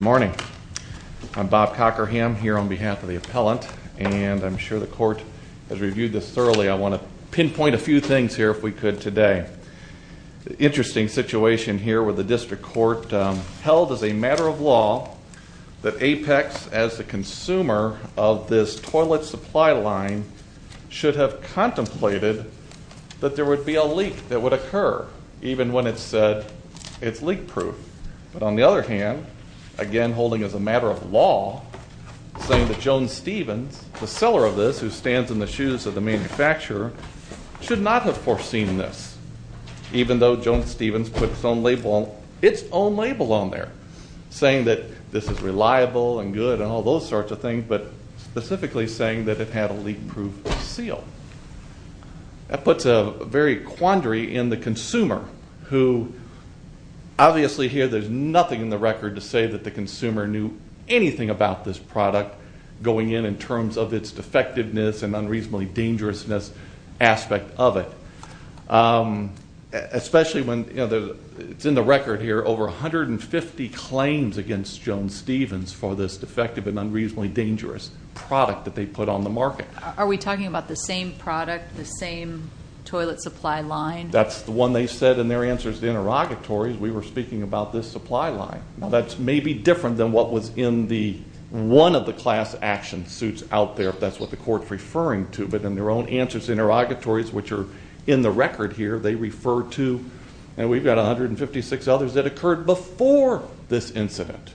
Good morning. I'm Bob Cockerham here on behalf of the appellant, and I'm sure the court has reviewed this thoroughly. I want to pinpoint a few things here if we could today. The interesting situation here with the district court held as a matter of law that Apex, as the consumer of this toilet supply line, should have contemplated that there would be a leak that would occur, even when it said it's leak-proof. But on the other hand, again holding as a matter of law, saying that Jones Stephens, the seller of this who stands in the shoes of the manufacturer, should not have foreseen this, even though Jones Stephens put its own label on there, saying that this is reliable and good and all those sorts of things, but specifically saying that it had a leak-proof seal. That puts a very quandary in the consumer who obviously here there's nothing in the record to say that the consumer knew anything about this product going in in terms of its defectiveness and unreasonably dangerousness aspect of it, especially when it's in the record here over 150 claims against Jones Stephens for this defective and unreasonably dangerous product that they put on the market. Are we talking about the same product, the same toilet supply line? That's the one they said in their answers to the interrogatories. We were speaking about this supply line. That's maybe different than what was in one of the class action suits out there, if that's what the court's referring to. But in their own answers to the interrogatories, which are in the record here, they refer to, and we've got 156 others that occurred before this incident.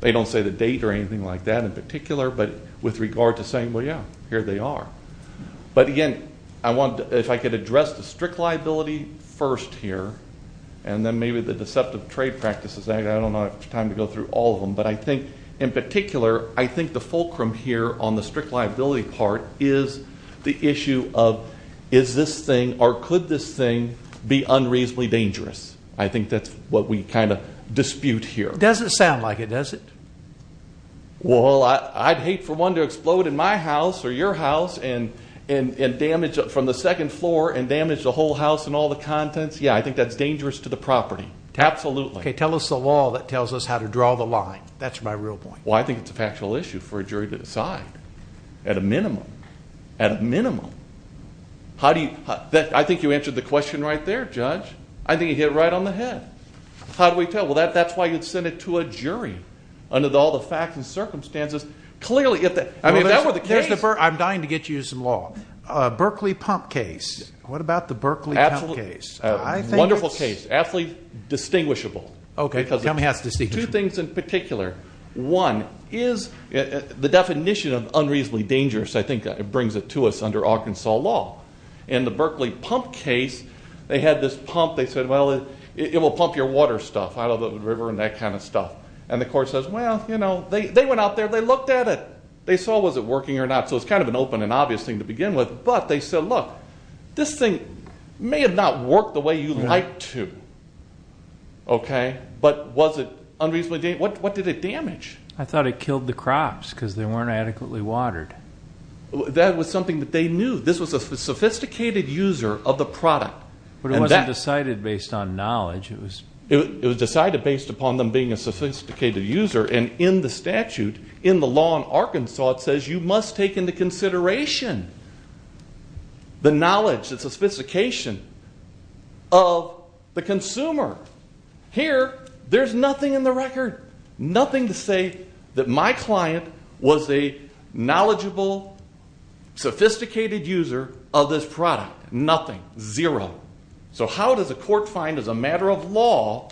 They don't say the date or anything like that in particular, but with regard to saying, well, yeah, here they are. But, again, if I could address the strict liability first here and then maybe the deceptive trade practices, I don't have time to go through all of them, but I think in particular I think the fulcrum here on the strict liability part is the issue of is this thing or could this thing be unreasonably dangerous. I think that's what we kind of dispute here. It doesn't sound like it, does it? Well, I'd hate for one to explode in my house or your house and damage from the second floor and damage the whole house and all the contents. Yeah, I think that's dangerous to the property, absolutely. Okay, tell us the law that tells us how to draw the line. That's my real point. Well, I think it's a factual issue for a jury to decide at a minimum. At a minimum. I think you answered the question right there, Judge. I think you hit it right on the head. How do we tell? Well, that's why you'd send it to a jury under all the facts and circumstances. Clearly, if that were the case. I'm dying to get you some law. Berkeley pump case. What about the Berkeley pump case? Wonderful case. Absolutely distinguishable. Okay, tell me how it's distinguishable. Two things in particular. One is the definition of unreasonably dangerous, I think, brings it to us under Arkansas law. In the Berkeley pump case, they had this pump. They said, well, it will pump your water stuff out of the river and that kind of stuff. And the court says, well, you know, they went out there. They looked at it. They saw was it working or not. So it's kind of an open and obvious thing to begin with. But they said, look, this thing may have not worked the way you'd like to. But was it unreasonably dangerous? What did it damage? I thought it killed the crops because they weren't adequately watered. That was something that they knew. This was a sophisticated user of the product. But it wasn't decided based on knowledge. It was decided based upon them being a sophisticated user. And in the statute, in the law in Arkansas, it says you must take into consideration the knowledge, the sophistication of the consumer. Here, there's nothing in the record, nothing to say that my client was a knowledgeable, sophisticated user of this product. Nothing. Zero. So how does a court find, as a matter of law,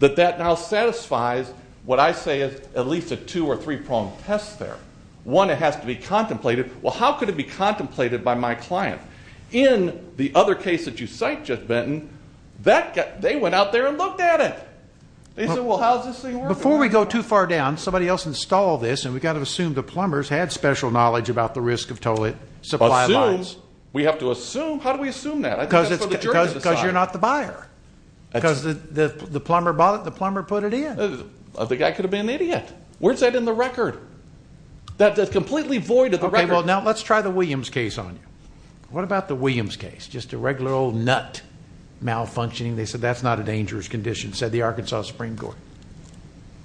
that that now satisfies what I say is at least a two- or three-pronged test there? One, it has to be contemplated. Well, how could it be contemplated by my client? In the other case that you cite, Jeff Benton, they went out there and looked at it. They said, well, how's this thing working? Before we go too far down, somebody else installed this, and we've got to assume the plumbers had special knowledge about the risk of total supply lines. Assume? We have to assume? How do we assume that? Because you're not the buyer. Because the plumber bought it, the plumber put it in. The guy could have been an idiot. Where's that in the record? That's completely void of the record. Okay, well, now let's try the Williams case on you. What about the Williams case? Just a regular old nut malfunctioning. They said that's not a dangerous condition, said the Arkansas Supreme Court.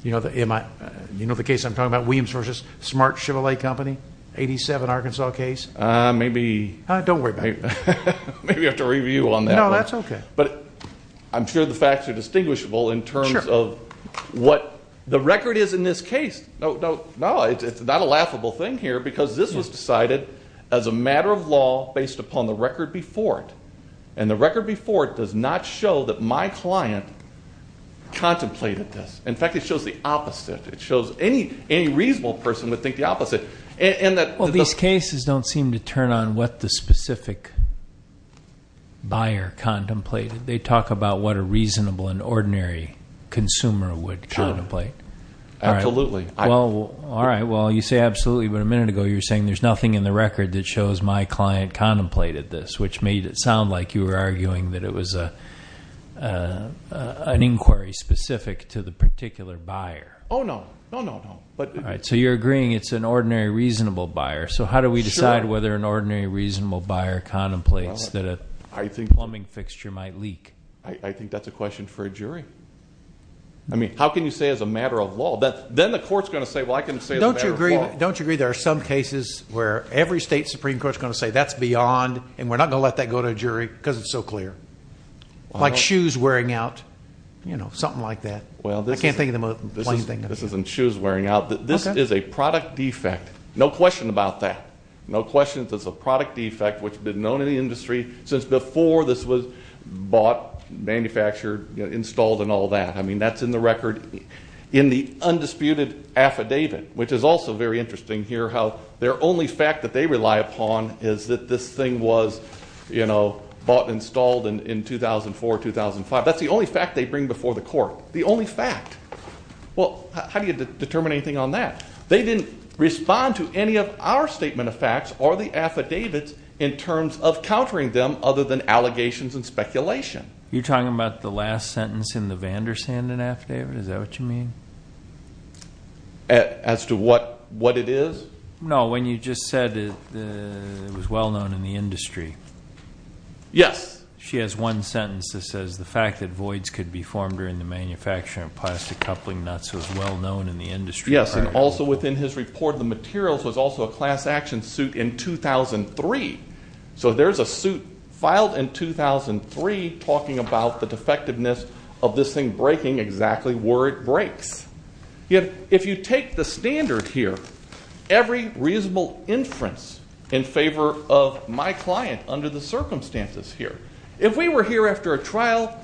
You know the case I'm talking about, Williams versus Smart Chevrolet Company? 1987 Arkansas case? Maybe. Don't worry about it. Maybe I have to review on that one. No, that's okay. But I'm sure the facts are distinguishable in terms of what the record is in this case. No, it's not a laughable thing here because this was decided as a matter of law based upon the record before it, and the record before it does not show that my client contemplated this. In fact, it shows the opposite. It shows any reasonable person would think the opposite. Well, these cases don't seem to turn on what the specific buyer contemplated. They talk about what a reasonable and ordinary consumer would contemplate. Absolutely. All right, well, you say absolutely, but a minute ago you were saying there's nothing in the record that shows my client contemplated this, which made it sound like you were arguing that it was an inquiry specific to the particular buyer. Oh, no. No, no, no. All right, so you're agreeing it's an ordinary reasonable buyer. So how do we decide whether an ordinary reasonable buyer contemplates that a plumbing fixture might leak? I think that's a question for a jury. I mean, how can you say it's a matter of law? Then the court's going to say, well, I can say it's a matter of law. Don't you agree there are some cases where every state Supreme Court is going to say that's beyond and we're not going to let that go to a jury because it's so clear? Like shoes wearing out, you know, something like that. I can't think of the most plain thing. This isn't shoes wearing out. This is a product defect. No question about that. No question it's a product defect which has been known in the industry since before this was bought, manufactured, installed, and all that. I mean, that's in the record in the undisputed affidavit, which is also very interesting here how their only fact that they rely upon is that this thing was, you know, bought and installed in 2004, 2005. That's the only fact they bring before the court. The only fact. Well, how do you determine anything on that? They didn't respond to any of our statement of facts or the affidavits in terms of countering them other than allegations and speculation. You're talking about the last sentence in the Vanderstand affidavit? Is that what you mean? As to what it is? No, when you just said it was well known in the industry. Yes. She has one sentence that says the fact that voids could be formed during the manufacture of plastic coupling nuts was well known in the industry. Yes, and also within his report, the materials was also a class action suit in 2003. So there's a suit filed in 2003 talking about the defectiveness of this thing breaking exactly where it breaks. If you take the standard here, every reasonable inference in favor of my client under the circumstances here, if we were here after a trial,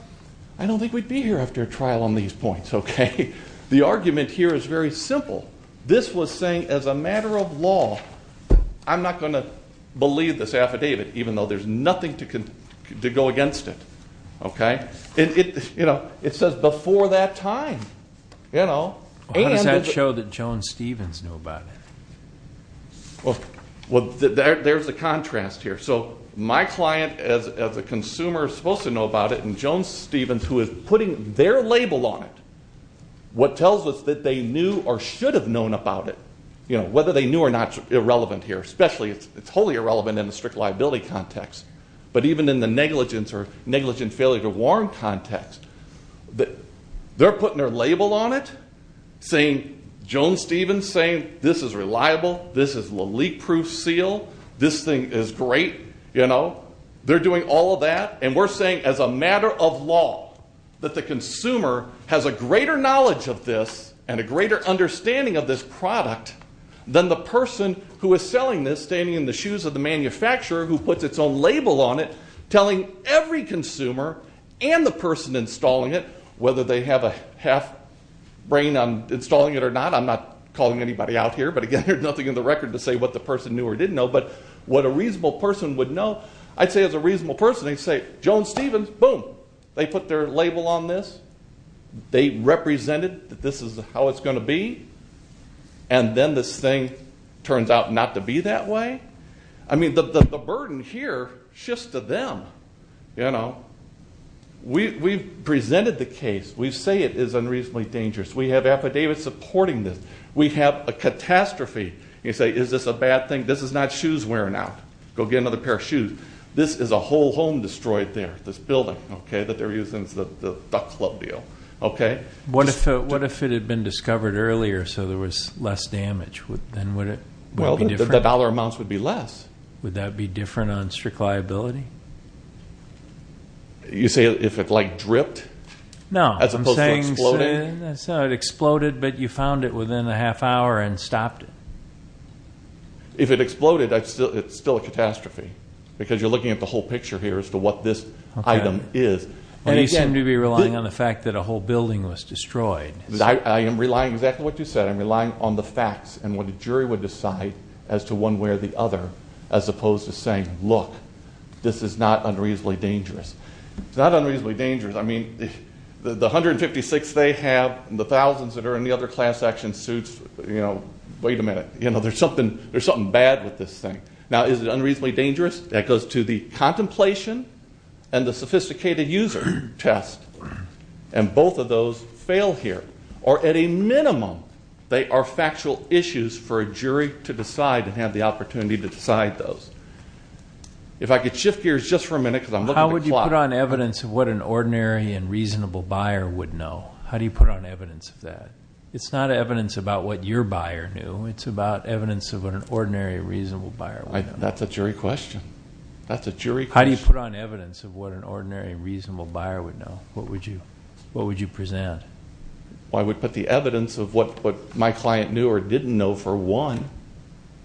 I don't think we'd be here after a trial on these points, okay? The argument here is very simple. This was saying as a matter of law, I'm not going to believe this affidavit even though there's nothing to go against it, okay? It says before that time, you know? How does that show that Jones-Stevens knew about it? Well, there's a contrast here. So my client as a consumer is supposed to know about it, and Jones-Stevens, who is putting their label on it, what tells us that they knew or should have known about it, whether they knew or not is irrelevant here, especially it's totally irrelevant in the strict liability context, but even in the negligence or negligent failure to warn context, they're putting their label on it saying Jones-Stevens, saying this is reliable, this is a leak-proof seal, this thing is great, you know? They're doing all of that, and we're saying as a matter of law that the consumer has a greater knowledge of this and a greater understanding of this product than the person who is selling this, standing in the shoes of the manufacturer, who puts its own label on it, telling every consumer and the person installing it, whether they have a half-brain on installing it or not, I'm not calling anybody out here, but again, there's nothing in the record to say what the person knew or didn't know, but what a reasonable person would know, I'd say as a reasonable person, they'd say Jones-Stevens, boom, they put their label on this, they represented that this is how it's going to be, and then this thing turns out not to be that way. I mean, the burden here shifts to them, you know? We've presented the case, we say it is unreasonably dangerous, we have affidavits supporting this, we have a catastrophe, you say is this a bad thing, this is not shoes wearing out, go get another pair of shoes. This is a whole home destroyed there, this building, okay, that they're using as the duck club deal, okay? What if it had been discovered earlier so there was less damage, then would it be different? Well, the dollar amounts would be less. Would that be different on strict liability? You say if it, like, dripped? No, I'm saying it exploded, but you found it within a half hour and stopped it. If it exploded, it's still a catastrophe, because you're looking at the whole picture here as to what this item is. And you seem to be relying on the fact that a whole building was destroyed. I am relying exactly what you said. I'm relying on the facts and what a jury would decide as to one way or the other, as opposed to saying, look, this is not unreasonably dangerous. It's not unreasonably dangerous. I mean, the 156 they have and the thousands that are in the other class action suits, wait a minute, there's something bad with this thing. Now, is it unreasonably dangerous? That goes to the contemplation and the sophisticated user test. And both of those fail here. Or at a minimum, they are factual issues for a jury to decide and have the opportunity to decide those. If I could shift gears just for a minute, because I'm looking at the clock. How would you put on evidence of what an ordinary and reasonable buyer would know? How do you put on evidence of that? It's not evidence about what your buyer knew. It's about evidence of what an ordinary and reasonable buyer would know. That's a jury question. That's a jury question. How do you put on evidence of what an ordinary and reasonable buyer would know? What would you present? Well, I would put the evidence of what my client knew or didn't know for one.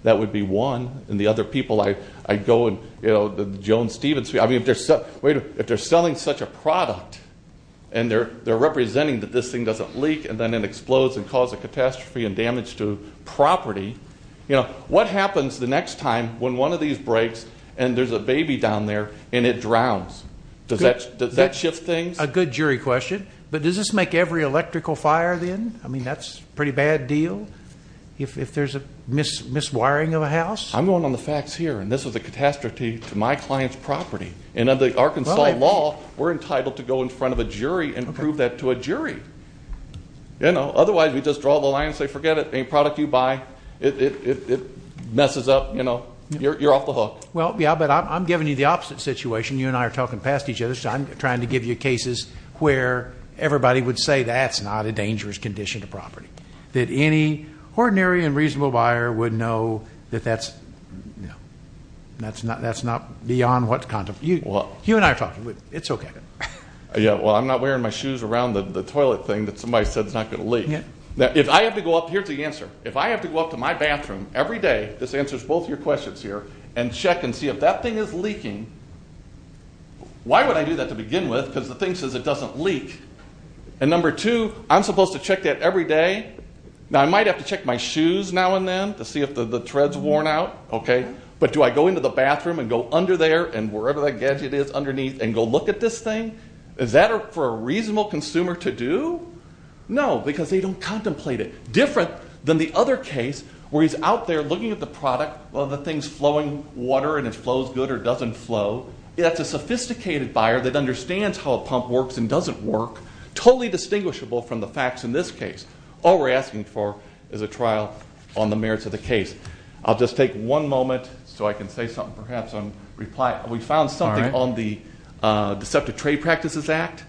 That would be one. And the other people, I'd go and, you know, the Jones-Stevens, I mean, if they're selling such a product and they're representing that this thing doesn't leak and then it explodes and causes a catastrophe and damage to property, you know, what happens the next time when one of these breaks and there's a baby down there and it drowns? Does that shift things? A good jury question. But does this make every electrical fire then? I mean, that's a pretty bad deal if there's a miswiring of a house. I'm going on the facts here, and this is a catastrophe to my client's property. And under the Arkansas law, we're entitled to go in front of a jury and prove that to a jury. You know, otherwise we just draw the line and say, forget it, any product you buy, it messes up, you know, you're off the hook. Well, yeah, but I'm giving you the opposite situation. You and I are talking past each other, so I'm trying to give you cases where everybody would say that's not a dangerous condition to property, that any ordinary and reasonable buyer would know that that's, you know, that's not beyond what's contemplated. You and I are talking. It's okay. Yeah, well, I'm not wearing my shoes around the toilet thing that somebody said is not going to leak. Now, if I have to go up here to the answer, if I have to go up to my bathroom every day, this answers both your questions here, and check and see if that thing is leaking, why would I do that to begin with because the thing says it doesn't leak? And number two, I'm supposed to check that every day? Now, I might have to check my shoes now and then to see if the tread's worn out. Okay? But do I go into the bathroom and go under there and wherever that gadget is underneath and go look at this thing? Is that for a reasonable consumer to do? No, because they don't contemplate it. Different than the other case where he's out there looking at the product, whether the thing's flowing water and it flows good or doesn't flow. That's a sophisticated buyer that understands how a pump works and doesn't work, totally distinguishable from the facts in this case. All we're asking for is a trial on the merits of the case. I'll just take one moment so I can say something perhaps on reply. We found something on the Deceptive Trade Practices Act,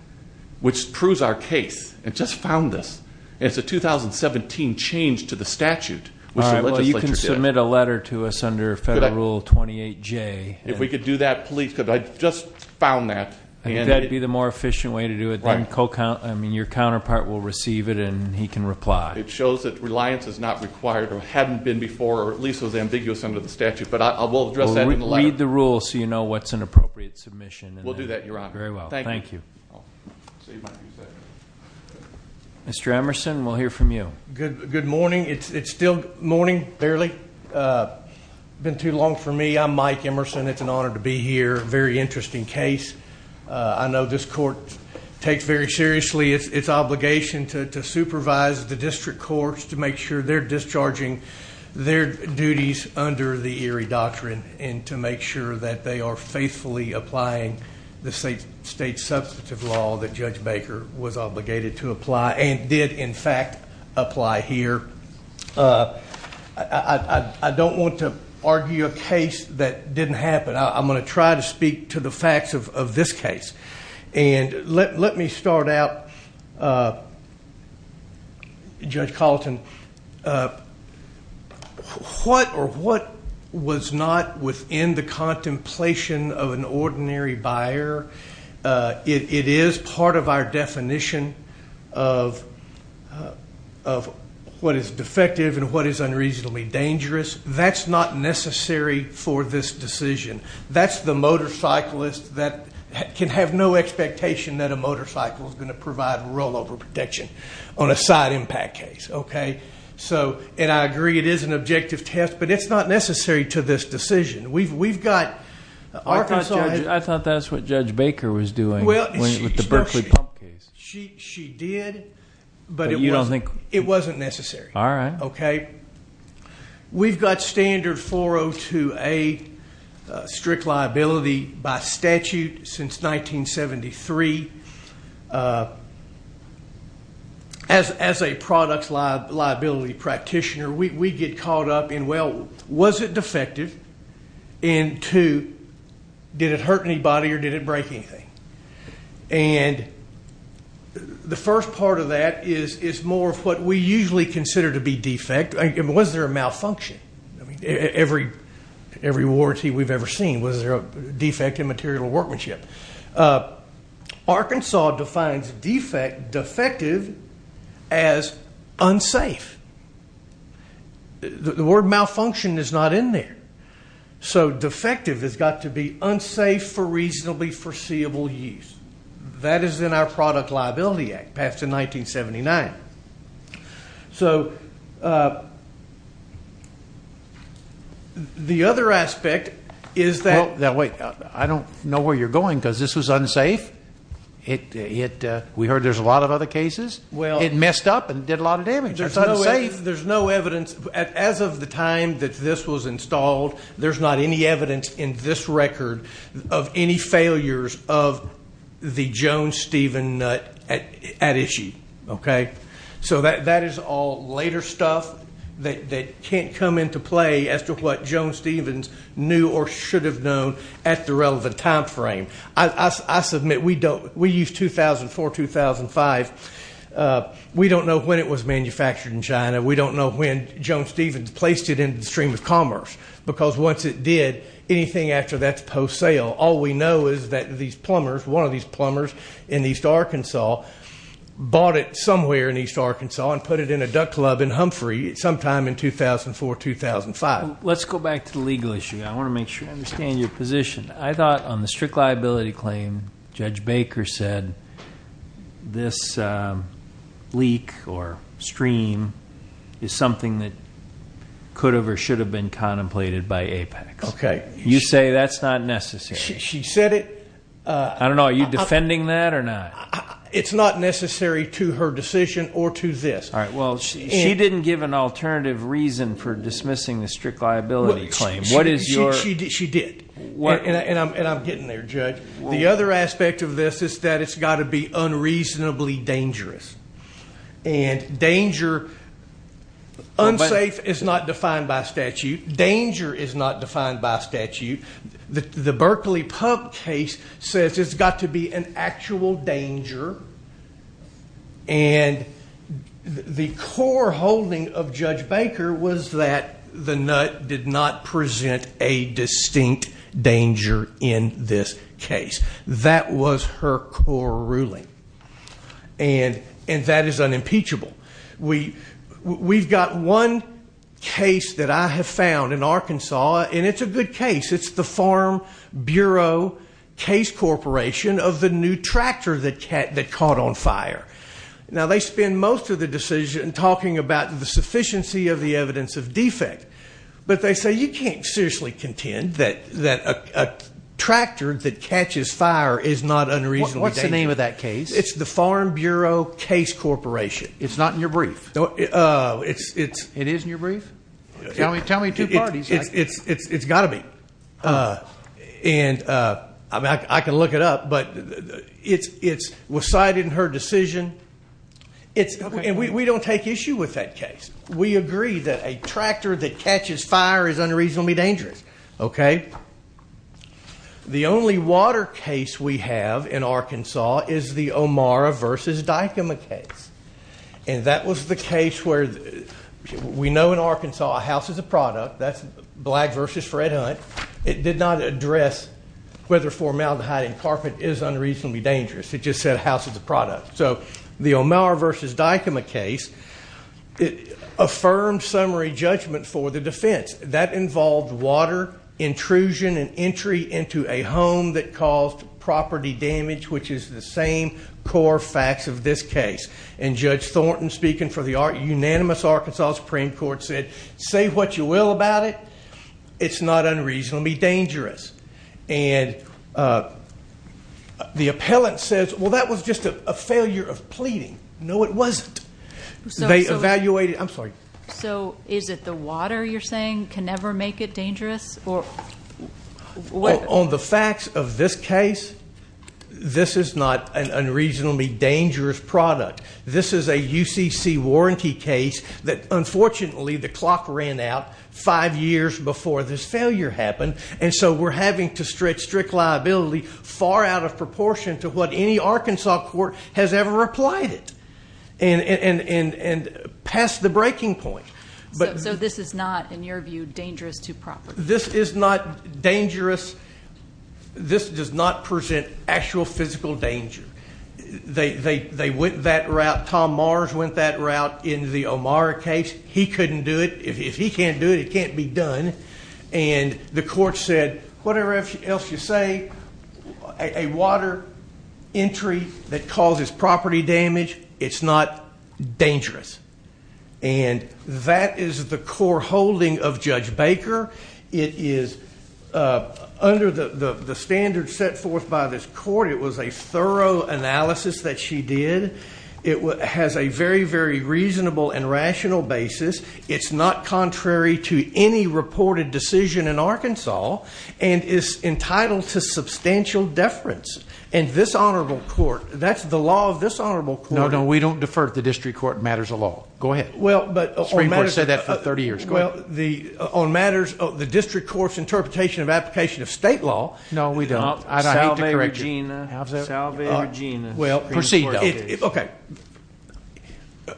which proves our case. It just found this. It's a 2017 change to the statute, which the legislature did. All right, well, you can submit a letter to us under Federal Rule 28J. If we could do that, please, because I just found that. I think that would be the more efficient way to do it. I mean, your counterpart will receive it and he can reply. It shows that reliance is not required or hadn't been before or at least was ambiguous under the statute. But we'll address that in the letter. Read the rules so you know what's an appropriate submission. We'll do that, Your Honor. Very well, thank you. Mr. Emerson, we'll hear from you. Good morning. It's still morning, barely. It's been too long for me. I'm Mike Emerson. It's an honor to be here. Very interesting case. I know this court takes very seriously its obligation to supervise the district courts to make sure they're discharging their duties under the Erie Doctrine and to make sure that they are faithfully applying the state substantive law that Judge Baker was obligated to apply and did, in fact, apply here. I don't want to argue a case that didn't happen. I'm going to try to speak to the facts of this case. Let me start out, Judge Colleton, what or what was not within the contemplation of an ordinary buyer, it is part of our definition of what is defective and what is unreasonably dangerous. That's not necessary for this decision. That's the motorcyclist that can have no expectation that a motorcycle is going to provide rollover protection on a side impact case. I agree it is an objective test, but it's not necessary to this decision. I thought that's what Judge Baker was doing with the Berkeley pump case. She did, but it wasn't necessary. All right. Okay. We've got standard 402A strict liability by statute since 1973. As a product liability practitioner, we get caught up in, well, was it defective, and two, did it hurt anybody or did it break anything? The first part of that is more of what we usually consider to be defect. Was there a malfunction? Every warranty we've ever seen, was there a defect in material workmanship? Arkansas defines defective as unsafe. The word malfunction is not in there. Defective has got to be unsafe for reasonably foreseeable use. That is in our Product Liability Act passed in 1979. The other aspect is that ‑‑ Wait. I don't know where you're going because this was unsafe. We heard there's a lot of other cases. It messed up and did a lot of damage. There's no evidence. As of the time that this was installed, there's not any evidence in this record of any failures of the Jones-Stevens nut at issue. Okay? So that is all later stuff that can't come into play as to what Jones-Stevens knew or should have known at the relevant time frame. I submit we use 2004, 2005. We don't know when it was manufactured in China. We don't know when Jones-Stevens placed it into the stream of commerce because once it did, anything after that is post-sale. All we know is that these plumbers, one of these plumbers in East Arkansas, bought it somewhere in East Arkansas and put it in a duck club in Humphrey sometime in 2004, 2005. Let's go back to the legal issue. I want to make sure I understand your position. I thought on the strict liability claim, Judge Baker said this leak or stream is something that could have or should have been contemplated by Apex. Okay. You say that's not necessary. She said it. I don't know. Are you defending that or not? It's not necessary to her decision or to this. All right. Well, she didn't give an alternative reason for dismissing the strict liability claim. She did. And I'm getting there, Judge. The other aspect of this is that it's got to be unreasonably dangerous. And danger, unsafe is not defined by statute. Danger is not defined by statute. The Berkeley pump case says it's got to be an actual danger. And the core holding of Judge Baker was that the nut did not present a distinct danger in this case. That was her core ruling. And that is unimpeachable. We've got one case that I have found in Arkansas, and it's a good case. It's the Farm Bureau Case Corporation of the new tractor that caught on fire. Now, they spend most of the decision talking about the sufficiency of the evidence of defect. But they say you can't seriously contend that a tractor that catches fire is not unreasonably dangerous. What's the name of that case? It's the Farm Bureau Case Corporation. It's not in your brief? It is in your brief? Tell me two parties. It's got to be. And I can look it up, but it was cited in her decision. And we don't take issue with that case. We agree that a tractor that catches fire is unreasonably dangerous. Okay? The only water case we have in Arkansas is the Omara v. Dykema case. And that was the case where we know in Arkansas a house is a product. That's Black v. Fred Hunt. It did not address whether formaldehyde in carpet is unreasonably dangerous. It just said a house is a product. So the Omara v. Dykema case affirmed summary judgment for the defense. That involved water intrusion and entry into a home that caused property damage, which is the same core facts of this case. And Judge Thornton, speaking for the unanimous Arkansas Supreme Court, said say what you will about it. It's not unreasonably dangerous. And the appellant says, well, that was just a failure of pleading. No, it wasn't. They evaluated it. I'm sorry. So is it the water you're saying can never make it dangerous? On the facts of this case, this is not an unreasonably dangerous product. This is a UCC warranty case that, unfortunately, the clock ran out five years before this failure happened. And so we're having to stretch strict liability far out of proportion to what any Arkansas court has ever applied it and past the breaking point. So this is not, in your view, dangerous to property? This is not dangerous. This does not present actual physical danger. They went that route. Tom Mars went that route in the O'Mara case. He couldn't do it. If he can't do it, it can't be done. And the court said, whatever else you say, a water entry that causes property damage, it's not dangerous. And that is the core holding of Judge Baker. It is under the standards set forth by this court. It was a thorough analysis that she did. It has a very, very reasonable and rational basis. It's not contrary to any reported decision in Arkansas and is entitled to substantial deference. And this honorable court, that's the law of this honorable court. No, no, we don't defer to the district court matters of law. Go ahead. The Supreme Court has said that for 30 years. Well, on matters of the district court's interpretation of application of state law. No, we don't. Salve, Regina. Salve, Regina. Well, proceed, though. Okay.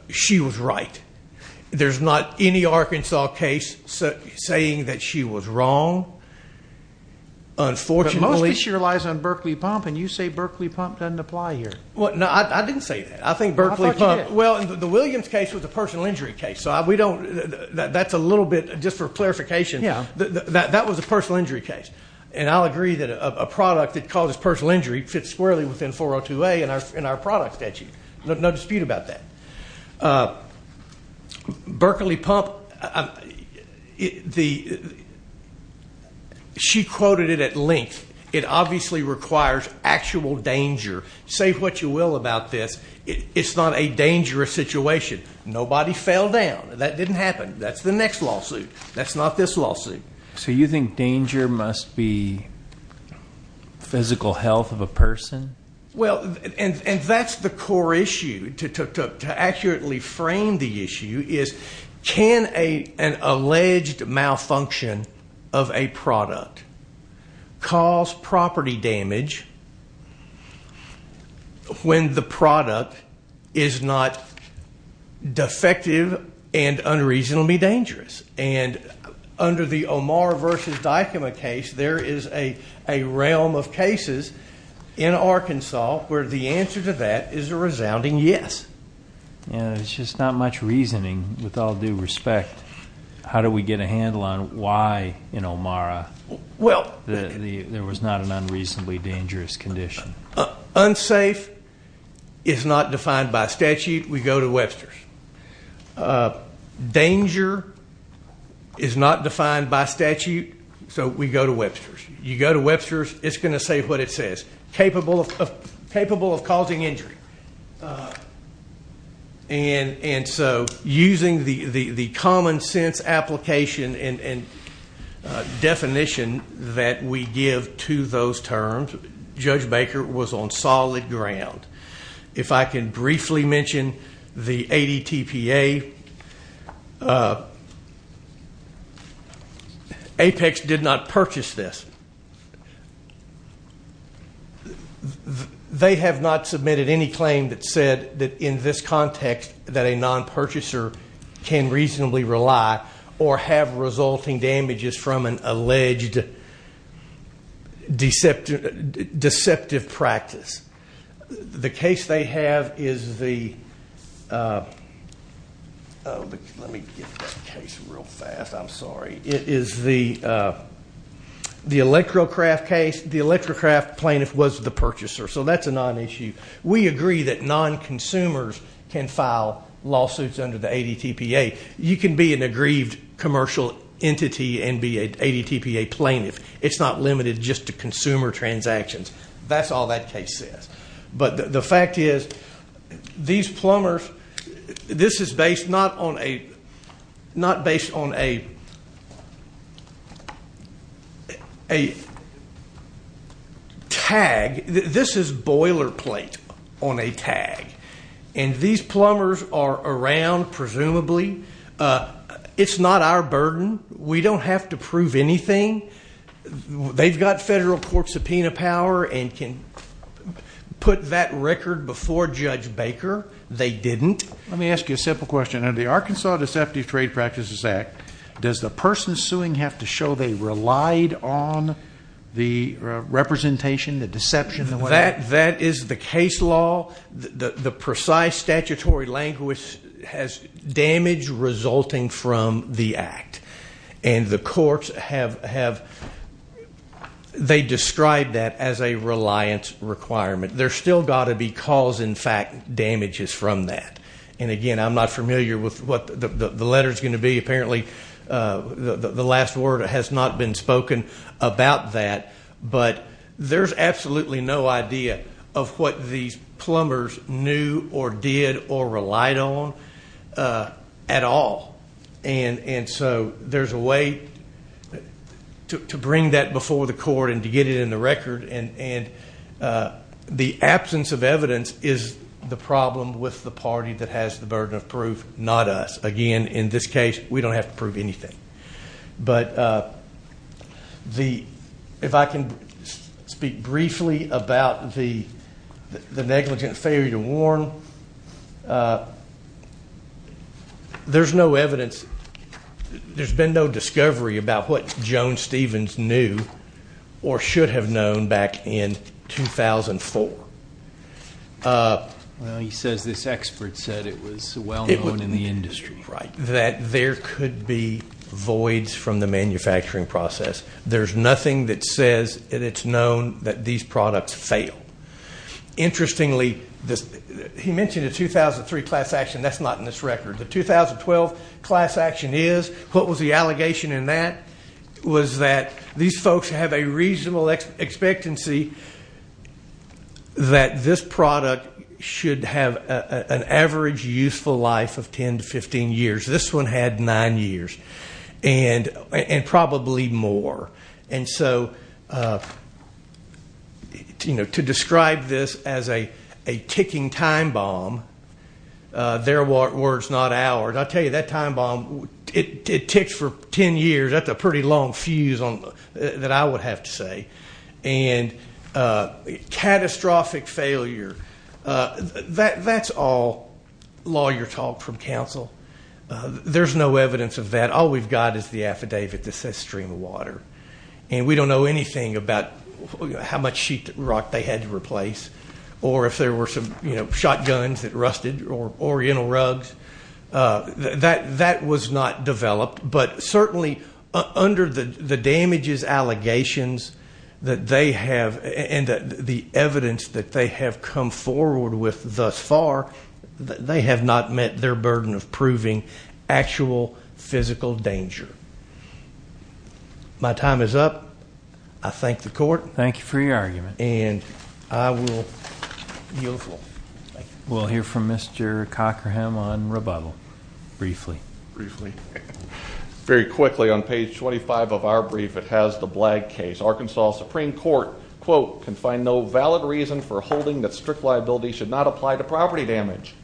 She was right. There's not any Arkansas case saying that she was wrong. Unfortunately. But mostly she relies on Berkeley Pump, and you say Berkeley Pump doesn't apply here. No, I didn't say that. I think Berkeley Pump. Well, I thought you did. Well, the Williams case was a personal injury case. That's a little bit, just for clarification, that was a personal injury case. And I'll agree that a product that causes personal injury fits squarely within 402A in our product statute. No dispute about that. Berkeley Pump, she quoted it at length. It obviously requires actual danger. Say what you will about this, it's not a dangerous situation. Nobody fell down. That didn't happen. That's the next lawsuit. That's not this lawsuit. So you think danger must be physical health of a person? Well, and that's the core issue. To accurately frame the issue is can an alleged malfunction of a product cause property damage when the product is not defective and unreasonably dangerous? And under the Omar v. Dykema case, there is a realm of cases in Arkansas where the answer to that is a resounding yes. It's just not much reasoning, with all due respect. How do we get a handle on why in Omara there was not an unreasonably dangerous condition? Unsafe is not defined by statute. We go to Webster's. Danger is not defined by statute, so we go to Webster's. You go to Webster's, it's going to say what it says, capable of causing injury. And so using the common sense application and definition that we give to those terms, Judge Baker was on solid ground. If I can briefly mention the ADTPA. Apex did not purchase this. They have not submitted any claim that said that in this context that a non-purchaser can reasonably rely or have resulting damages from an alleged deceptive practice. The case they have is the, let me get this case real fast, I'm sorry. It is the ElectroCraft case. The ElectroCraft plaintiff was the purchaser, so that's a non-issue. We agree that non-consumers can file lawsuits under the ADTPA. You can be an aggrieved commercial entity and be an ADTPA plaintiff. It's not limited just to consumer transactions. That's all that case says. But the fact is, these plumbers, this is based not on a tag, this is boilerplate on a tag. And these plumbers are around, presumably. It's not our burden. We don't have to prove anything. They've got federal court subpoena power and can put that record before Judge Baker. They didn't. Let me ask you a simple question. Under the Arkansas Deceptive Trade Practices Act, does the person suing have to show they relied on the representation, the deception, the whatever? That is the case law. The precise statutory language has damage resulting from the act. And the courts have described that as a reliance requirement. There's still got to be cause and effect damages from that. And, again, I'm not familiar with what the letter's going to be. Apparently the last word has not been spoken about that. But there's absolutely no idea of what these plumbers knew or did or relied on at all. And so there's a way to bring that before the court and to get it in the record. And the absence of evidence is the problem with the party that has the burden of proof, not us. Again, in this case, we don't have to prove anything. But if I can speak briefly about the negligent failure to warn, there's no evidence. There's been no discovery about what Joan Stevens knew or should have known back in 2004. Well, he says this expert said it was well known in the industry. Right. That there could be voids from the manufacturing process. There's nothing that says that it's known that these products fail. Interestingly, he mentioned a 2003 class action. That's not in this record. The 2012 class action is. What was the allegation in that? Was that these folks have a reasonable expectancy that this product should have an average useful life of 10 to 15 years. This one had nine years and probably more. And so, you know, to describe this as a ticking time bomb, their word's not ours. I'll tell you, that time bomb, it ticks for 10 years. That's a pretty long fuse that I would have to say. And catastrophic failure, that's all lawyer talk from counsel. There's no evidence of that. All we've got is the affidavit that says stream of water. And we don't know anything about how much sheet rock they had to replace or if there were some, you know, That was not developed, but certainly under the damages allegations that they have and the evidence that they have come forward with thus far, they have not met their burden of proving actual physical danger. My time is up. I thank the court. Thank you for your argument. And I will yield the floor. We'll hear from Mr. Cockerham on rebuttal briefly. Briefly. Very quickly on page 25 of our brief, it has the Blagg case. Arkansas Supreme Court, quote, can find no valid reason for holding that strict liability should not apply to property damage.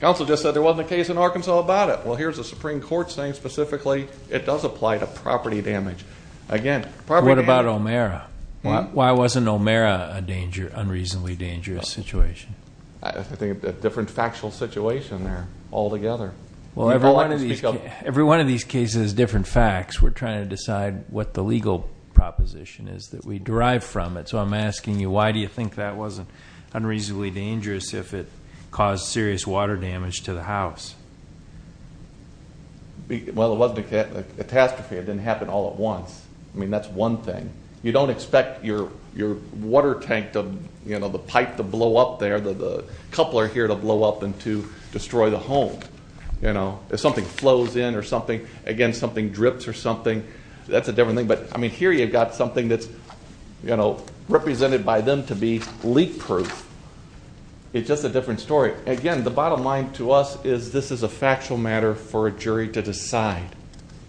Counsel just said there wasn't a case in Arkansas about it. Well, here's the Supreme Court saying specifically it does apply to property damage. Again, property damage. What about O'Mara? What? Why wasn't O'Mara an unreasonably dangerous situation? I think a different factual situation there altogether. Well, every one of these cases is different facts. We're trying to decide what the legal proposition is that we derive from it. So I'm asking you, why do you think that wasn't unreasonably dangerous if it caused serious water damage to the house? Well, it wasn't a catastrophe. It didn't happen all at once. I mean, that's one thing. You don't expect your water tank, the pipe to blow up there, the coupler here to blow up and to destroy the home. If something flows in or something, again, something drips or something, that's a different thing. But, I mean, here you've got something that's represented by them to be leak-proof. It's just a different story. Again, the bottom line to us is this is a factual matter for a jury to decide.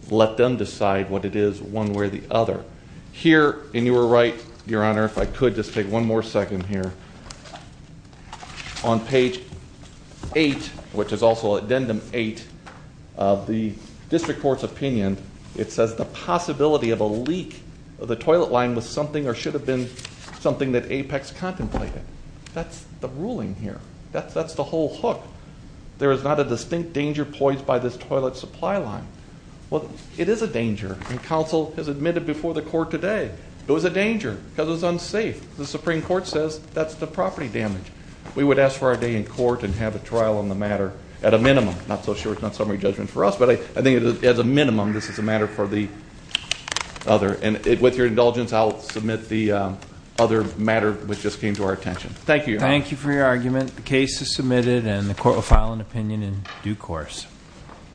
Let them decide what it is one way or the other. Here, and you were right, Your Honor, if I could just take one more second here, on page 8, which is also addendum 8 of the district court's opinion, it says the possibility of a leak of the toilet line was something or should have been something that Apex contemplated. That's the ruling here. That's the whole hook. There is not a distinct danger poised by this toilet supply line. Well, it is a danger, and counsel has admitted before the court today it was a danger because it was unsafe. The Supreme Court says that's the property damage. We would ask for our day in court and have a trial on the matter at a minimum. I'm not so sure it's not summary judgment for us, but I think as a minimum, this is a matter for the other. And with your indulgence, I'll submit the other matter which just came to our attention. Thank you, Your Honor. Thank you for your argument. The case is submitted, and the court will file an opinion in due course.